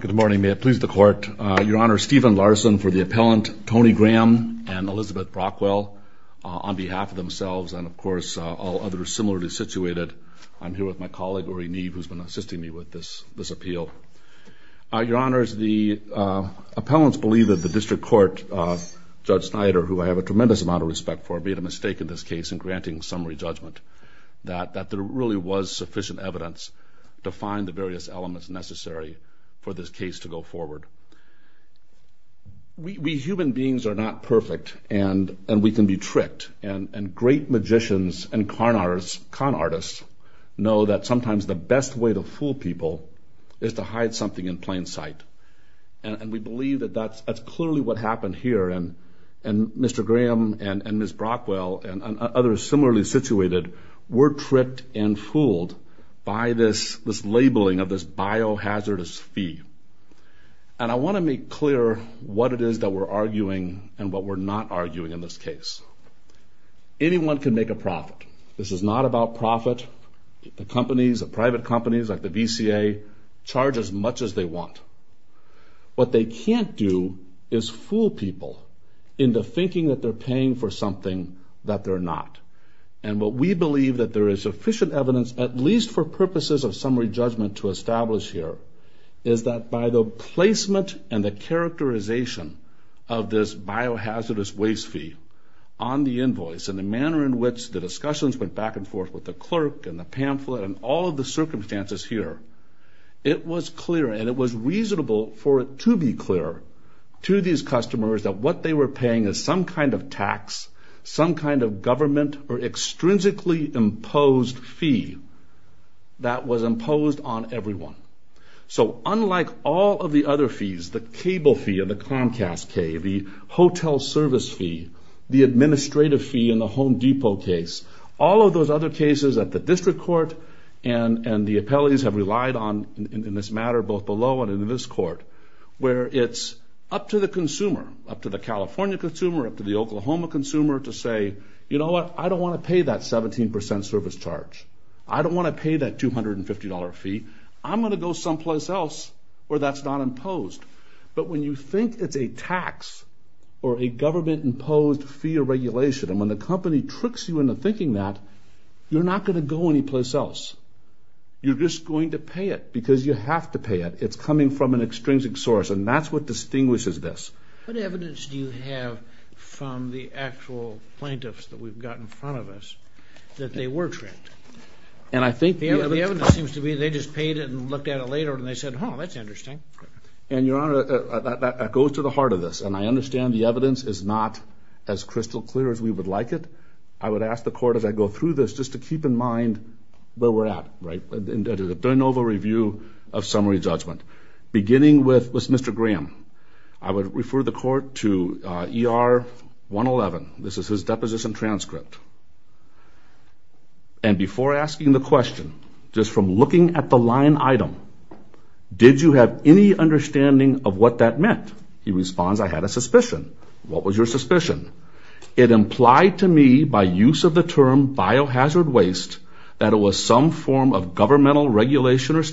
Good morning. May it please the Court. Your Honor, Stephen Larson for the appellant, Tony Graham and Elizabeth Brockwell on behalf of themselves and of course all others similarly situated. I'm here with my colleague, Ori Neve, who's been assisting me with this this appeal. Your Honors, the appellants believe that the District Court, Judge Snyder, who I have a tremendous amount of respect for, made a mistake in this case in granting summary judgment. That there really was sufficient evidence to find the various elements necessary for this case to go forward. We human beings are not perfect and and we can be tricked and and great magicians and con artists know that sometimes the best way to fool people is to hide something in plain sight and we believe that that's that's clearly what happened here and and Mr. Graham and and Ms. Brockwell and others similarly situated were tripped and fooled by this this labeling of this biohazardous fee and I want to make clear what it is that we're arguing and what we're not arguing in this case. Anyone can make a profit. This is not about profit. The companies, the private companies like the VCA, charge as much as they want. What they can't do is fool people into thinking that they're something that they're not and what we believe that there is sufficient evidence at least for purposes of summary judgment to establish here is that by the placement and the characterization of this biohazardous waste fee on the invoice and the manner in which the discussions went back and forth with the clerk and the pamphlet and all of the circumstances here it was clear and it was reasonable for it to be clear to these customers that what they were paying is some kind of tax, some kind of government or extrinsically imposed fee that was imposed on everyone. So unlike all of the other fees, the cable fee of the Comcast K, the hotel service fee, the administrative fee in the Home Depot case, all of those other cases at the District Court and and the appellees have relied on in this matter both below and in this court where it's up to the consumer, up to the California consumer, up to the Oklahoma consumer to say, you know what, I don't want to pay that 17% service charge. I don't want to pay that $250 fee. I'm going to go someplace else where that's not imposed. But when you think it's a tax or a government imposed fee or regulation and when the company tricks you into thinking that, you're not going to go anyplace else. You're just going to pay it because you have to pay it. It's coming from an extrinsic source and that's what distinguishes this. What evidence do you have from the actual plaintiffs that we've got in front of us that they were tricked? And I think the evidence seems to be they just paid it and looked at it later and they said, oh that's interesting. And your honor, that goes to the heart of this and I understand the evidence is not as crystal clear as we would like it. I would ask the court as I go through this just to keep in mind where we're at, right, in the de novo review of summary judgment. Beginning with Mr. Graham, I would refer the court to ER 111. This is his deposition transcript. And before asking the question, just from looking at the line item, did you have any understanding of what that meant? He responds, I had a suspicion. What was your suspicion? It implied to me by use of the term biohazard waste that it was some form of governmental regulation or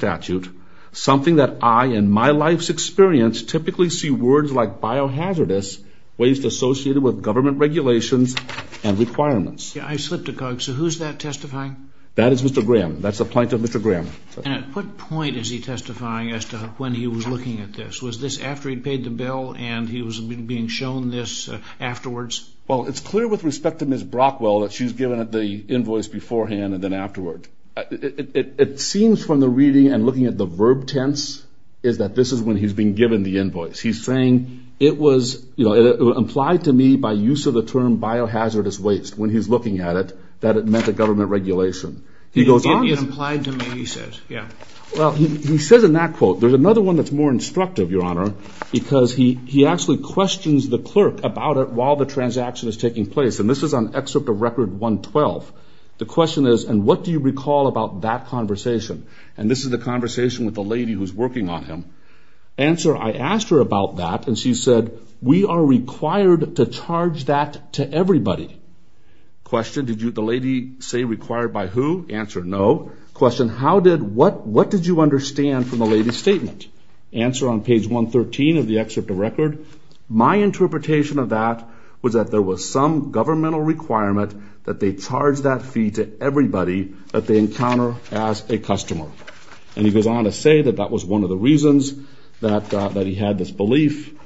something that I, in my life's experience, typically see words like biohazardous waste associated with government regulations and requirements. Yeah, I slipped a cog. So who's that testifying? That is Mr. Graham. That's the plaintiff, Mr. Graham. And at what point is he testifying as to when he was looking at this? Was this after he'd paid the bill and he was being shown this afterwards? Well, it's clear with respect to Ms. Brockwell that she was given the invoice beforehand and then afterward. It seems from the reading and looking at the verb tense, is that this is when he's being given the invoice. He's saying it was, you know, it implied to me by use of the term biohazardous waste when he's looking at it, that it meant a government regulation. He goes on. It implied to me, he says, yeah. Well, he says in that quote, there's another one that's more instructive, Your Honor, because he actually questions the clerk about it while the transaction is taking place. And this is on excerpt of Record 112. The question is, and what do you recall about that conversation? And this is the conversation with the lady who's working on him. Answer, I asked her about that and she said, we are required to charge that to everybody. Question, did you, the lady say required by who? Answer, no. Question, how did, what did you understand from the lady's statement? Answer on page 113 of the excerpt of Record, my interpretation of that was that there was some governmental requirement that they charge that fee to everybody that they encounter as a customer. And he goes on to say that that was one of the reasons that that he had this belief.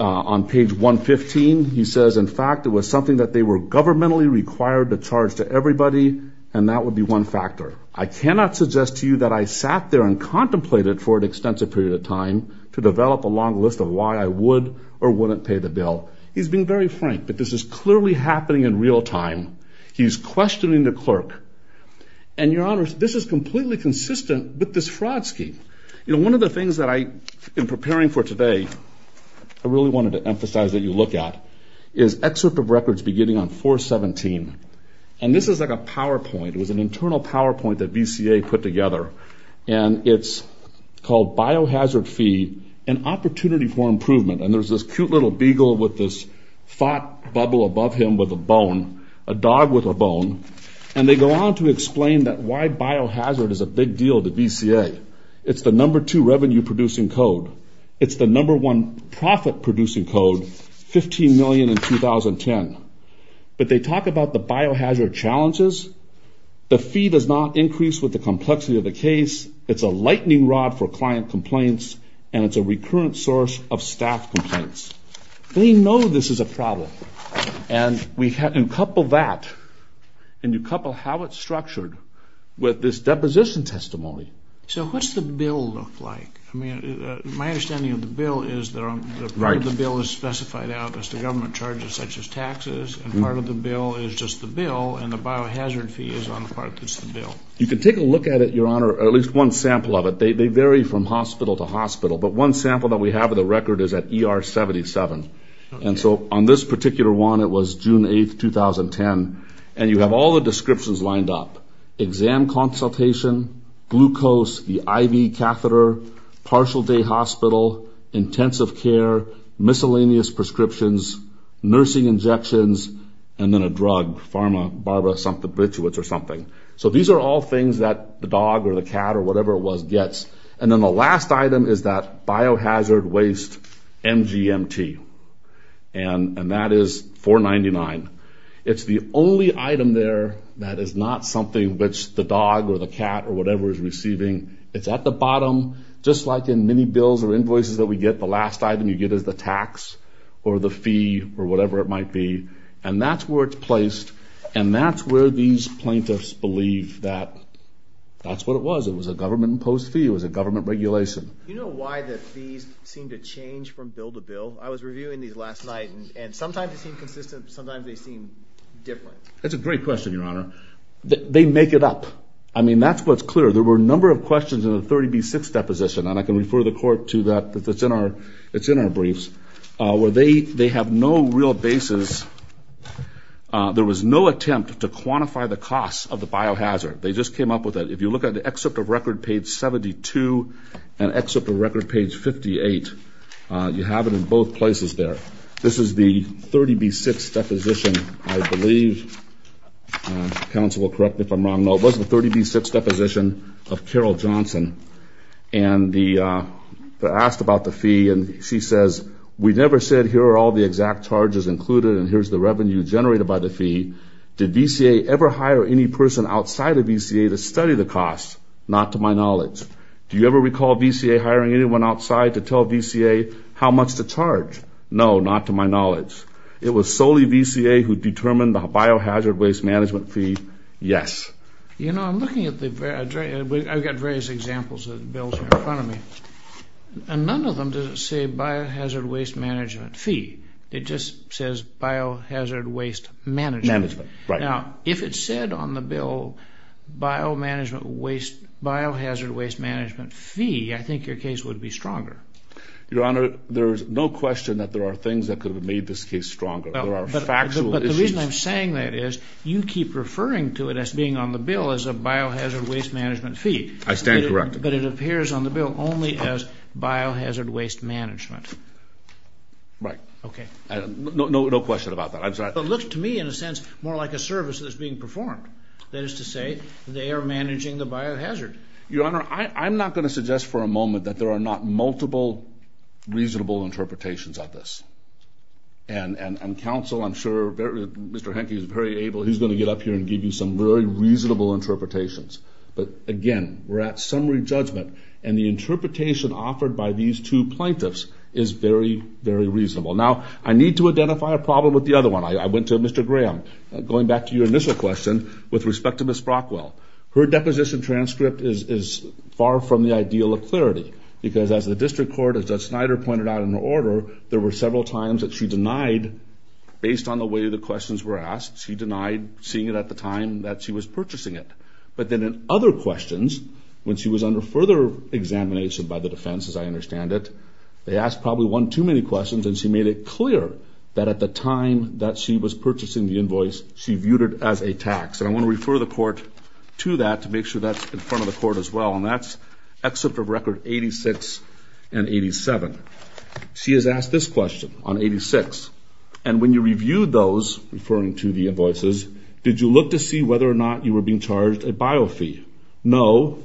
On page 115, he says, in fact, it was something that they were governmentally required to charge to everybody and that would be one factor. I cannot suggest to you that I sat there and contemplated for an extensive period of time to develop a long list of why I would or wouldn't pay the bill. He's been very frank, but this is clearly happening in real time. He's questioning the clerk. And your honors, this is completely consistent with this fraud scheme. You know, one of the things that I've been preparing for today, I really wanted to emphasize that you look at, is excerpt of Records beginning on 417. And this is like a PowerPoint. It was an internal PowerPoint that VCA put together. And it's called Biohazard Fee, an Opportunity for Improvement. And there's this cute little beagle with this fat bubble above him with a bone, a dog with a bone. And they go on to explain that why biohazard is a big deal to VCA. It's the number two revenue-producing code. It's the number one profit-producing code, 15 million in 2010. But they talk about the biohazard challenges. The fee does not increase with the complexity of the case. It's a lightning rod for client complaints. And it's a recurrent source of staff complaints. They know this is a problem. And we have to couple that, and you couple how it's structured with this deposition testimony. So what's the bill look like? I mean, my understanding of the bill is that part of the bill is specified out as the government charges, such as taxes. And part of the bill is just the bill. And the biohazard fee is on the part that's the bill. You can take a look at it, your honor, at least one sample of it. They vary from hospital to hospital. My record is at ER 77. And so on this particular one, it was June 8th, 2010. And you have all the descriptions lined up. Exam consultation, glucose, the IV catheter, partial day hospital, intensive care, miscellaneous prescriptions, nursing injections, and then a drug, pharma, barba, something, bituates or something. So these are all things that the dog or the cat or whatever is receiving. It's at the bottom, just like in many bills or invoices that we get, the last item you get is the tax or the fee or whatever it might be. And that's where it's placed. And that's where these plaintiffs believe that that's what it was. It was a government imposed fee. It was a government regulation. You know why the fees seem to change? Because the from bill to bill. I was reviewing these last night and sometimes it seemed consistent, sometimes they seem different. That's a great question, your honor. They make it up. I mean, that's what's clear. There were a number of questions in the 30B6 deposition, and I can refer the court to that. It's in our briefs, where they have no real basis. There was no attempt to quantify the cost of the biohazard. They just came up with it. If you look at the record page 72 and excerpt of record page 58, you have it in both places there. This is the 30B6 deposition, I believe. Counsel will correct me if I'm wrong. No, it was the 30B6 deposition of Carol Johnson. And they asked about the fee and she says, we never said here are all the exact charges included and here's the revenue generated by the fee. Did VCA ever hire any person outside of costs? Not to my knowledge. Do you ever recall VCA hiring anyone outside to tell VCA how much to charge? No, not to my knowledge. It was solely VCA who determined the biohazard waste management fee? Yes. You know, I'm looking at the various examples of bills in front of me, and none of them doesn't say biohazard waste management fee. It just says biohazard waste management. Now, if it said on the bill biohazard waste management fee, I think your case would be stronger. Your Honor, there's no question that there are things that could have made this case stronger. There are factual issues. But the reason I'm saying that is, you keep referring to it as being on the bill as a biohazard waste management fee. I stand corrected. But it appears on the bill only as biohazard waste management. Right. Okay. No question about that. It looks to me, in a sense, more like a service that's being performed. That is to say, they are managing the biohazard. Your Honor, I'm not going to suggest for a moment that there are not multiple reasonable interpretations of this. And counsel, I'm sure Mr. Henke is very able, he's going to get up here and give you some very reasonable interpretations. But again, we're at summary judgment, and the interpretation offered by these two is reasonable. Now, I need to identify a problem with the other one. I went to Mr. Graham. Going back to your initial question, with respect to Ms. Brockwell, her deposition transcript is far from the ideal of clarity. Because as the district court, as Judge Snyder pointed out in her order, there were several times that she denied, based on the way the questions were asked, she denied seeing it at the time that she was purchasing it. But then in other questions, when she was under further examination by the defense, as I understand it, they asked probably one too many questions, and she made it clear that at the time that she was purchasing the invoice, she viewed it as a tax. And I want to refer the court to that to make sure that's in front of the court as well. And that's excerpt of record 86 and 87. She has asked this question on 86. And when you reviewed those, referring to the invoices, did you look to see whether or not you were being charged a biofee? No.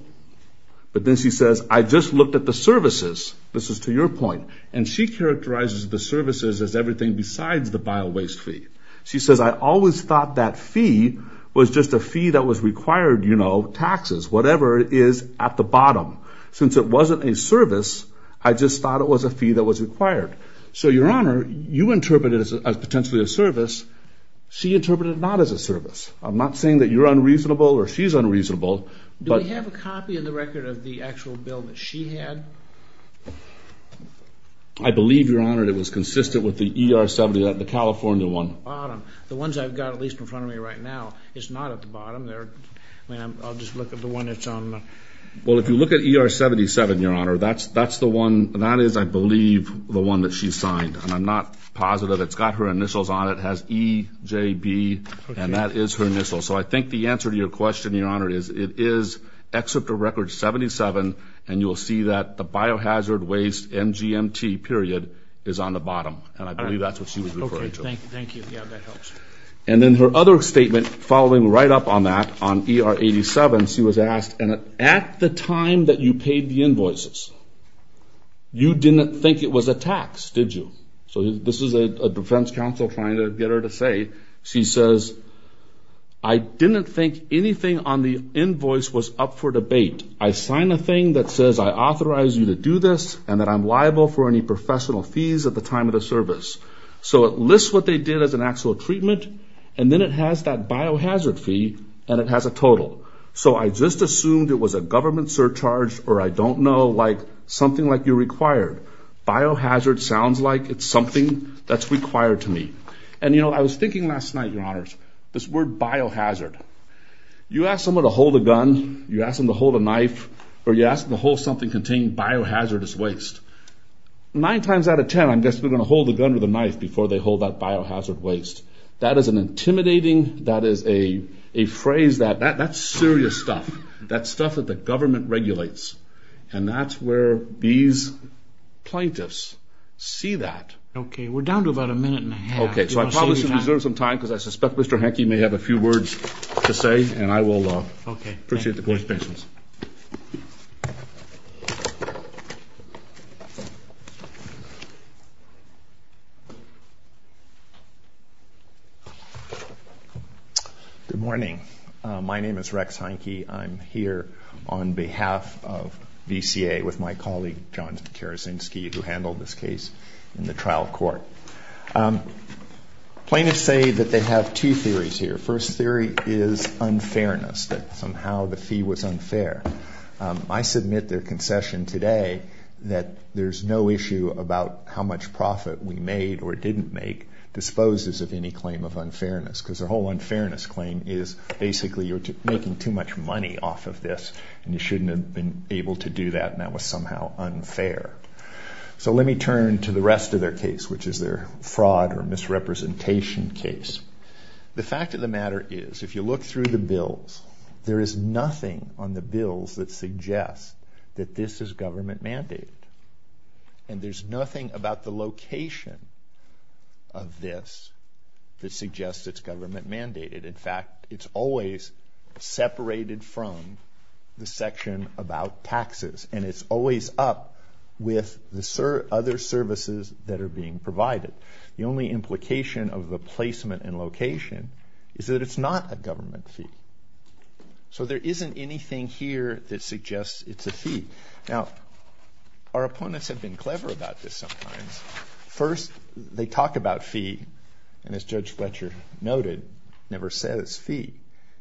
But then she says, I just looked at the services, this is to your point, and she characterizes the services as everything besides the bio-waste fee. She says, I always thought that fee was just a fee that was required, you know, taxes, whatever is at the bottom. Since it wasn't a service, I just thought it was a fee that was required. So your honor, you interpret it as potentially a service. She interpreted it not as a service. I'm not saying that you're unreasonable or she's unreasonable. Do we have a copy in the record of the I believe, your honor, it was consistent with the ER-70, the California one. The ones I've got, at least in front of me right now, it's not at the bottom. I'll just look at the one that's on... Well, if you look at ER-77, your honor, that's the one, that is, I believe, the one that she signed. And I'm not positive. It's got her initials on it. It has EJB and that is her initial. So I think the answer to your question, your honor, is it is excerpt of record 77 and you will see that the biohazard waste MGMT period is on the bottom. And I believe that's what she was referring to. Okay, thank you. Yeah, that helps. And then her other statement following right up on that, on ER-87, she was asked, and at the time that you paid the invoices, you didn't think it was a tax, did you? So this is a defense counsel trying to get her to say, she says, I didn't think anything on the invoice was up for debate. I sign a thing that says I authorize you to do this and that I'm liable for any professional fees at the time of the service. So it lists what they did as an actual treatment and then it has that biohazard fee and it has a total. So I just assumed it was a government surcharge or I don't know, like, something like you're required. Biohazard sounds like it's something that's required to me. And, you know, I was thinking last night, your honors, this word biohazard. You ask someone to hold a gun, you ask them to hold a knife, or you ask them to hold something containing biohazardous waste. Nine times out of ten, I'm guessing they're gonna hold the gun with a knife before they hold that biohazard waste. That is an intimidating, that is a phrase that, that's serious stuff. That's stuff that the government regulates. And that's where these plaintiffs see that. Okay, we're down to about a minute and a half. Okay, so I probably should reserve some time because I suspect Mr. Hanke may have a few words to say and I will appreciate the court's patience. Good morning. My name is Rex Hanke. I'm here on behalf of VCA with my colleague John Karazinski, who handled this case in the trial court. Plaintiffs say that they have two theories here. First theory is unfairness, that somehow the fee was unfair. I submit their concession today that there's no issue about how much profit we made or didn't make disposes of any claim of unfairness. Because their whole unfairness claim is basically you're making too much money off of this and you shouldn't have been able to do that and that was somehow unfair. So let me turn to the rest of their case, which is their fraud or misrepresentation case. The fact of the matter is, if you look through the bills, there is nothing on the bills that suggests that this is government mandated. And there's nothing about the location of this that suggests it's government mandated. In fact, it's always separated from the section about taxes and it's always up with the other services that are being provided. The only implication of the placement and location is that it's not a government fee. So there isn't anything here that suggests it's a fee. Now our opponents have been clever about this sometimes. First, they talk about fee and as Judge Fletcher noted, never says fee.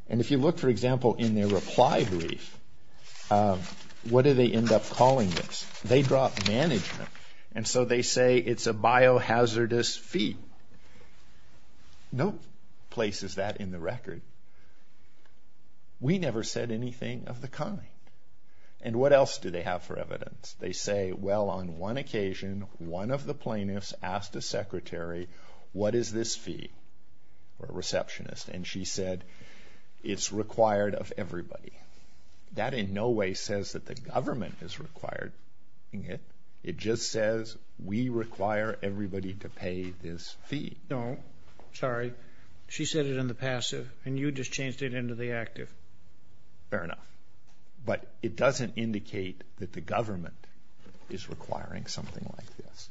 And if you look, for example, in their reply brief, what do they end up calling this? They drop management and so they say it's a biohazardous fee. No place is that in the record. We never said anything of the kind. And what else do they have for plaintiffs asked a secretary, what is this fee? Or a receptionist. And she said it's required of everybody. That in no way says that the government is required. It just says we require everybody to pay this fee. No, sorry, she said it in the passive and you just changed it into the active. Fair enough. But it doesn't indicate that the government is requiring something like this.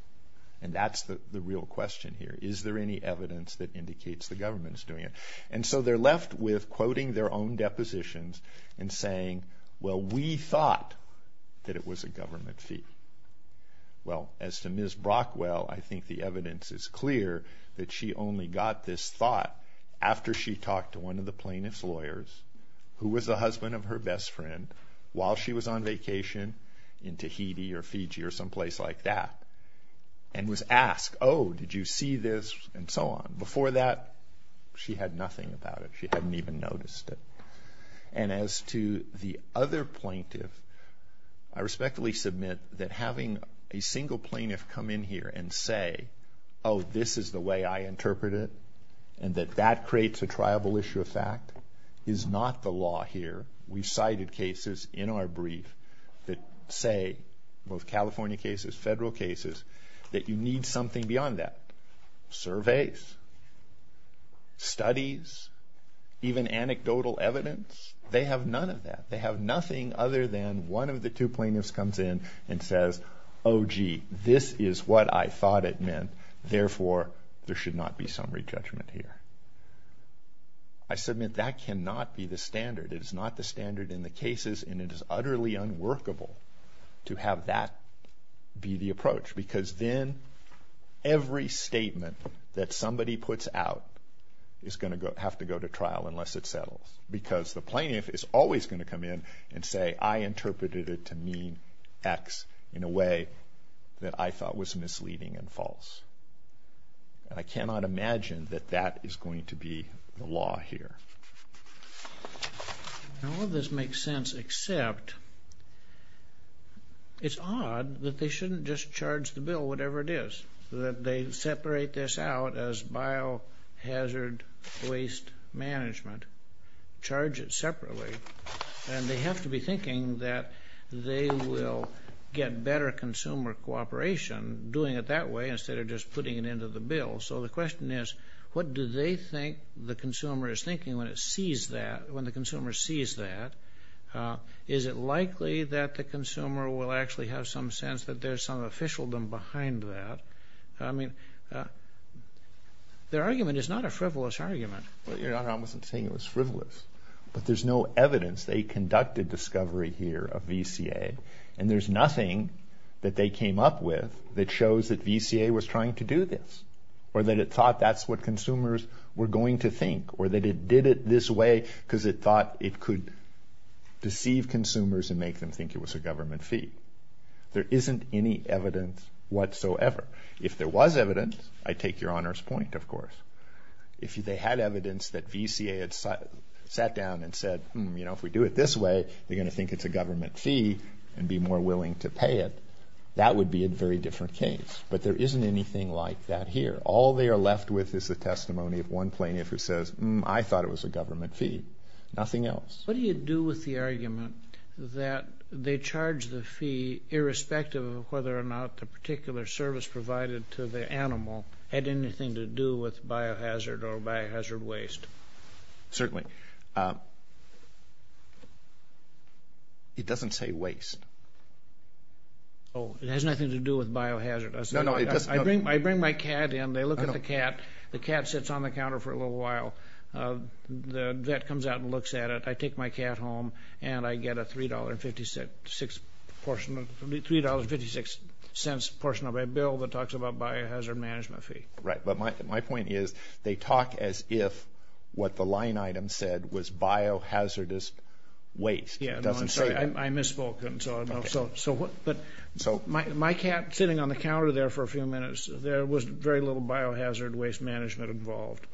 And that's the real question here. Is there any evidence that indicates the government's doing it? And so they're left with quoting their own depositions and saying, well we thought that it was a government fee. Well as to Ms. Brockwell, I think the evidence is clear that she only got this thought after she talked to one of the plaintiffs on vacation in Tahiti or Fiji or someplace like that. And was asked, oh did you see this? And so on. Before that, she had nothing about it. She hadn't even noticed it. And as to the other plaintiff, I respectfully submit that having a single plaintiff come in here and say, oh this is the way I interpret it, and that that creates a triable issue of fact, is not the law here. We've cited cases in our brief that say, both California cases, federal cases, that you need something beyond that. Surveys, studies, even anecdotal evidence, they have none of that. They have nothing other than one of the two plaintiffs comes in and says, oh gee, this is what I thought it meant, therefore there should not be summary judgment here. I submit that cannot be the standard. It is not the standard in the cases, and it is utterly unworkable to have that be the approach. Because then every statement that somebody puts out is going to have to go to trial unless it settles. Because the plaintiff is always going to come in and say, I interpreted it to mean X in a way that I thought was misleading and false. And I cannot imagine that that is going to be the law here. Now all this makes sense except, it's odd that they shouldn't just charge the bill whatever it is. That they separate this out as biohazard waste management, charge it separately, and they have to be thinking that they will get better consumer cooperation doing it that way instead of just putting it into the bill. So the question is, what do they think the consumer is thinking when it sees that, when the consumer sees that? Is it likely that the consumer will actually have some sense that there's some officialdom behind that? I mean, their argument is not a frivolous argument. Your Honor, I wasn't saying it was frivolous, but there's no evidence. They conducted discovery here of VCA, and there's nothing that they came up with that shows that VCA was trying to do this, or that it thought that's what consumers were going to think, or that it did it this way because it thought it could deceive consumers and make them think it was a government fee. There isn't any evidence whatsoever. If there was evidence, I take Your Honor's point, of course. If they had evidence that VCA had sat down and said, hmm, you know, if we do it this way, they're going to think it's a government fee and they're going to pay it, that would be a very different case. But there isn't anything like that here. All they are left with is the testimony of one plaintiff who says, hmm, I thought it was a government fee. Nothing else. What do you do with the argument that they charge the fee irrespective of whether or not the particular service provided to the animal had anything to do with biohazard or biohazard waste? Certainly. It doesn't say waste. Oh, it has nothing to do with biohazard. I bring my cat in, they look at the cat, the cat sits on the counter for a little while, the vet comes out and looks at it. I take my cat home and I get a $3.56 portion of a bill that talks about as if what the line item said was biohazardous waste. Yeah, no, I'm sorry, I misspoke. But my cat sitting on the counter there for a few minutes, there was very little biohazard waste management involved.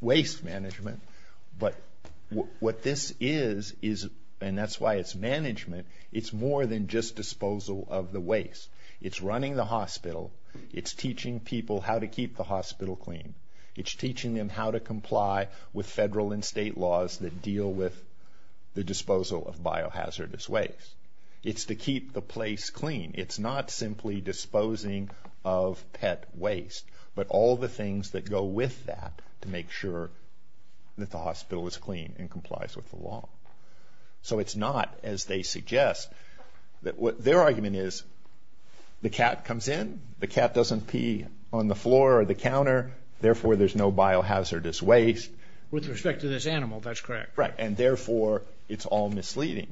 Waste management, but what this is, and that's why it's management, it's more than just disposal of the waste. It's running the hospital, it's teaching people how to keep the place clean, it's teaching them how to comply with federal and state laws that deal with the disposal of biohazardous waste. It's to keep the place clean. It's not simply disposing of pet waste, but all the things that go with that to make sure that the hospital is clean and complies with the law. So it's not, as they suggest, that what their argument is, the cat comes in, the cat doesn't pee on the floor or the counter, therefore there's no biohazardous waste. With respect to this animal, that's correct. Right, and therefore it's all misleading.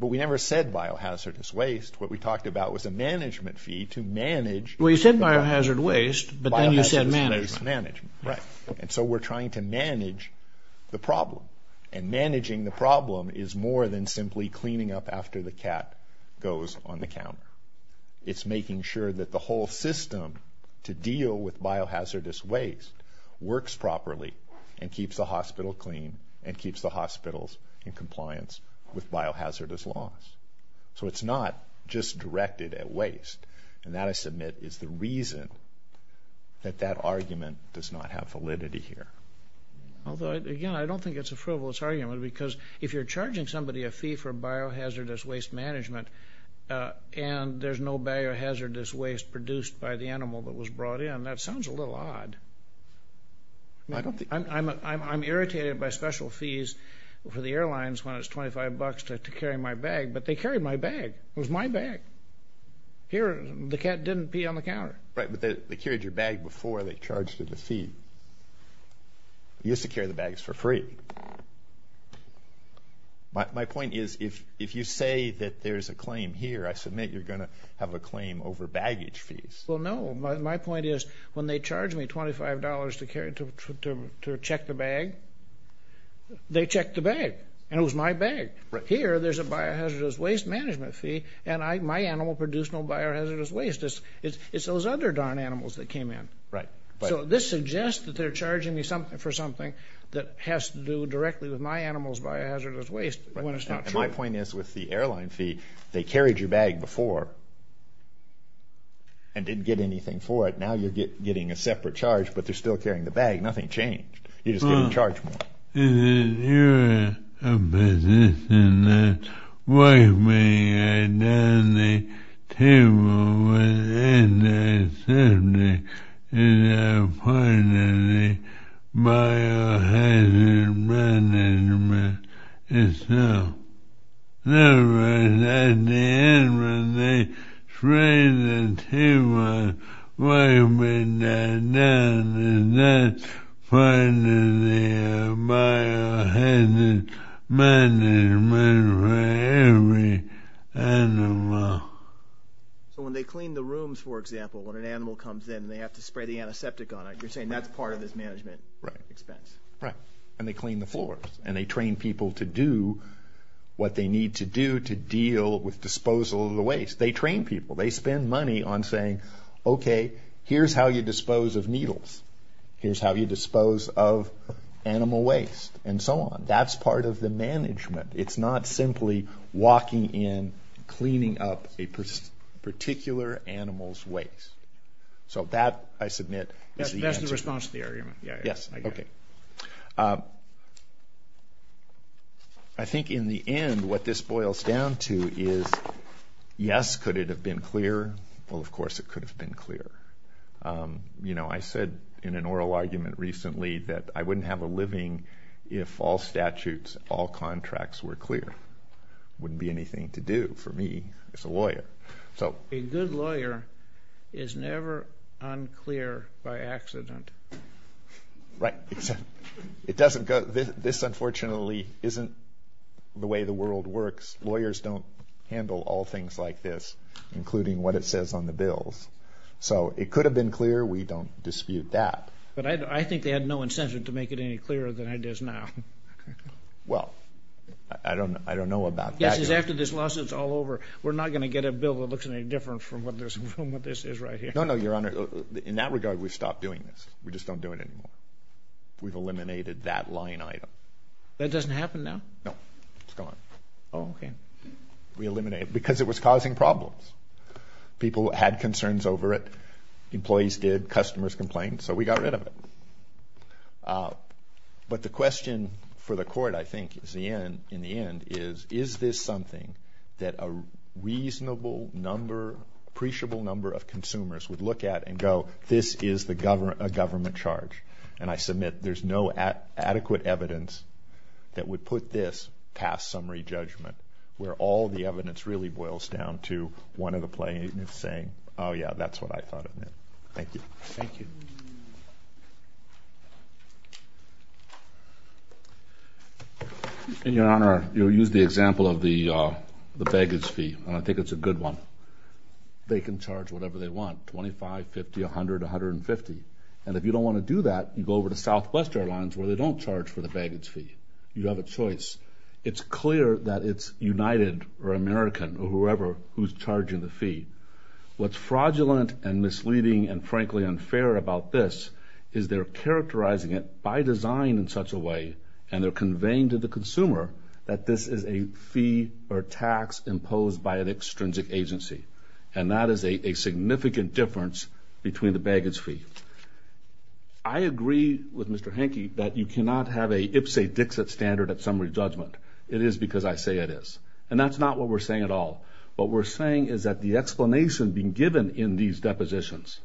But we never said biohazardous waste. What we talked about was a management fee to manage. Well, you said biohazard waste, but then you said management. Management, right. And so we're trying to manage the problem. And managing the problem is more than simply cleaning up after the cat goes on the counter. It's making sure that the whole system to biohazardous waste works properly and keeps the hospital clean and keeps the hospitals in compliance with biohazardous laws. So it's not just directed at waste. And that, I submit, is the reason that that argument does not have validity here. Although, again, I don't think it's a frivolous argument because if you're charging somebody a fee for biohazardous waste management and there's no biohazardous waste produced by the animal that was brought in, that sounds a little odd. I'm irritated by special fees for the airlines when it's 25 bucks to carry my bag, but they carried my bag. It was my bag. Here, the cat didn't pee on the counter. Right, but they carried your bag before they charged you the fee. You used to carry the bags for free. My point is, if you say that there's a claim here, I submit you're gonna have a claim over baggage fees. Well, no. My point is, when they charge me $25 to check the bag, they checked the bag, and it was my bag. Here, there's a biohazardous waste management fee, and my animal produced no biohazardous waste. It's those other darn animals that came in. Right. So this suggests that they're charging me something for something that has to do directly with my animal's biohazardous waste when it's not true. My point is, with the airline fee, they carried your bag before and didn't get anything for it. Now you're getting a separate charge, but they're still carrying the bag. Nothing changed. You just get a charge and that's finally a biohazardous waste management fee for every animal. So when they clean the rooms, for example, when an animal comes in and they have to spray the antiseptic on it, you're saying that's part of this management expense? Right. And they clean the floors, and they train people to do what they need to do to deal with disposal of the waste. They train people. They spend money on saying, okay, here's how you dispose of needles. Here's how you dispose of animal waste, and so on. That's part of the management. It's not simply walking in, cleaning up a particular animal's waste. So that, I submit, is the answer. That's the response to the argument. Yes. Okay. I think in the end, what this boils down to is, yes, could it have been clearer? Well, of course it could have been clearer. You know, I said in an oral argument recently that I wouldn't have a good lawyer. In all statutes, all contracts were clear. Wouldn't be anything to do, for me, as a lawyer. A good lawyer is never unclear by accident. Right. This unfortunately isn't the way the world works. Lawyers don't handle all things like this, including what it says on the bills. So it could have been clear. We don't dispute that. But I think they had no incentive to do it. Well, I don't know about that. Yes, because after this lawsuit's all over, we're not going to get a bill that looks any different from what this is right here. No, no, Your Honor. In that regard, we've stopped doing this. We just don't do it anymore. We've eliminated that line item. That doesn't happen now? No. It's gone. Oh, okay. We eliminated it because it was causing problems. People had concerns over it. Employees did. Customers complained. So we got rid of it. But the question for the Court, I think, in the end is, is this something that a reasonable number, appreciable number of consumers would look at and go, this is a government charge? And I submit there's no adequate evidence that would put this past summary judgment, where all the evidence really boils down to one of the plaintiffs saying, oh yeah, that's what I thought it meant. Thank you. Thank you. And Your Honor, you'll use the example of the baggage fee, and I think it's a good one. They can charge whatever they want, $25, $50, $100, $150. And if you don't want to do that, you go over to Southwest Airlines, where they don't charge for the baggage fee. You have a choice. It's clear that it's United or American or whoever who's charging the fee. What's fraudulent and misleading and frankly unfair about this is they're characterizing it by design in such a vain to the consumer that this is a fee or tax imposed by an extrinsic agency. And that is a significant difference between the baggage fee. I agree with Mr. Hanke that you cannot have a ipsa dixit standard at summary judgment. It is because I say it is. And that's not what we're saying at all. What we're saying is that the explanation being given in these depositions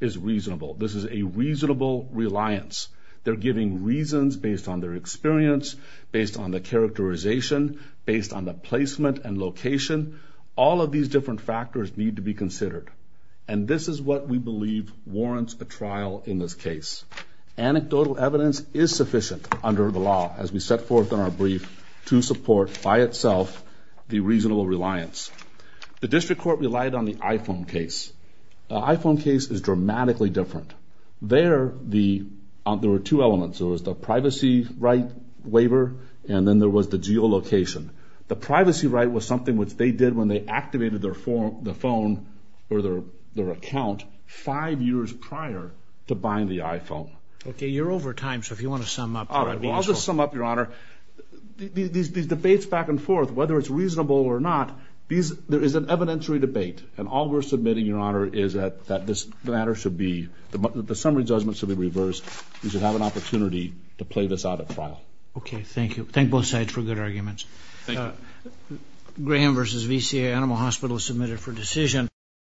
is reasonable. This is a reasonable reliance. They're giving reasons based on their experience, based on the characterization, based on the placement and location. All of these different factors need to be considered. And this is what we believe warrants a trial in this case. Anecdotal evidence is sufficient under the law as we set forth in our brief to support by itself the reasonable reliance. The there the there were two elements. It was the privacy right waiver and then there was the geolocation. The privacy right was something which they did when they activated their form, the phone or their their account five years prior to buying the iphone. Okay, you're over time. So if you want to sum up, I'll just sum up your honor. These debates back and forth, whether it's reasonable or not, there is an evidentiary debate and all we're submitting, your honor, is that that this matter should be the summary judgments of the reverse. You should have an opportunity to play this out at trial. Okay, thank you. Thank both sides for good arguments. Graham versus VCA Animal Hospital submitted for decision.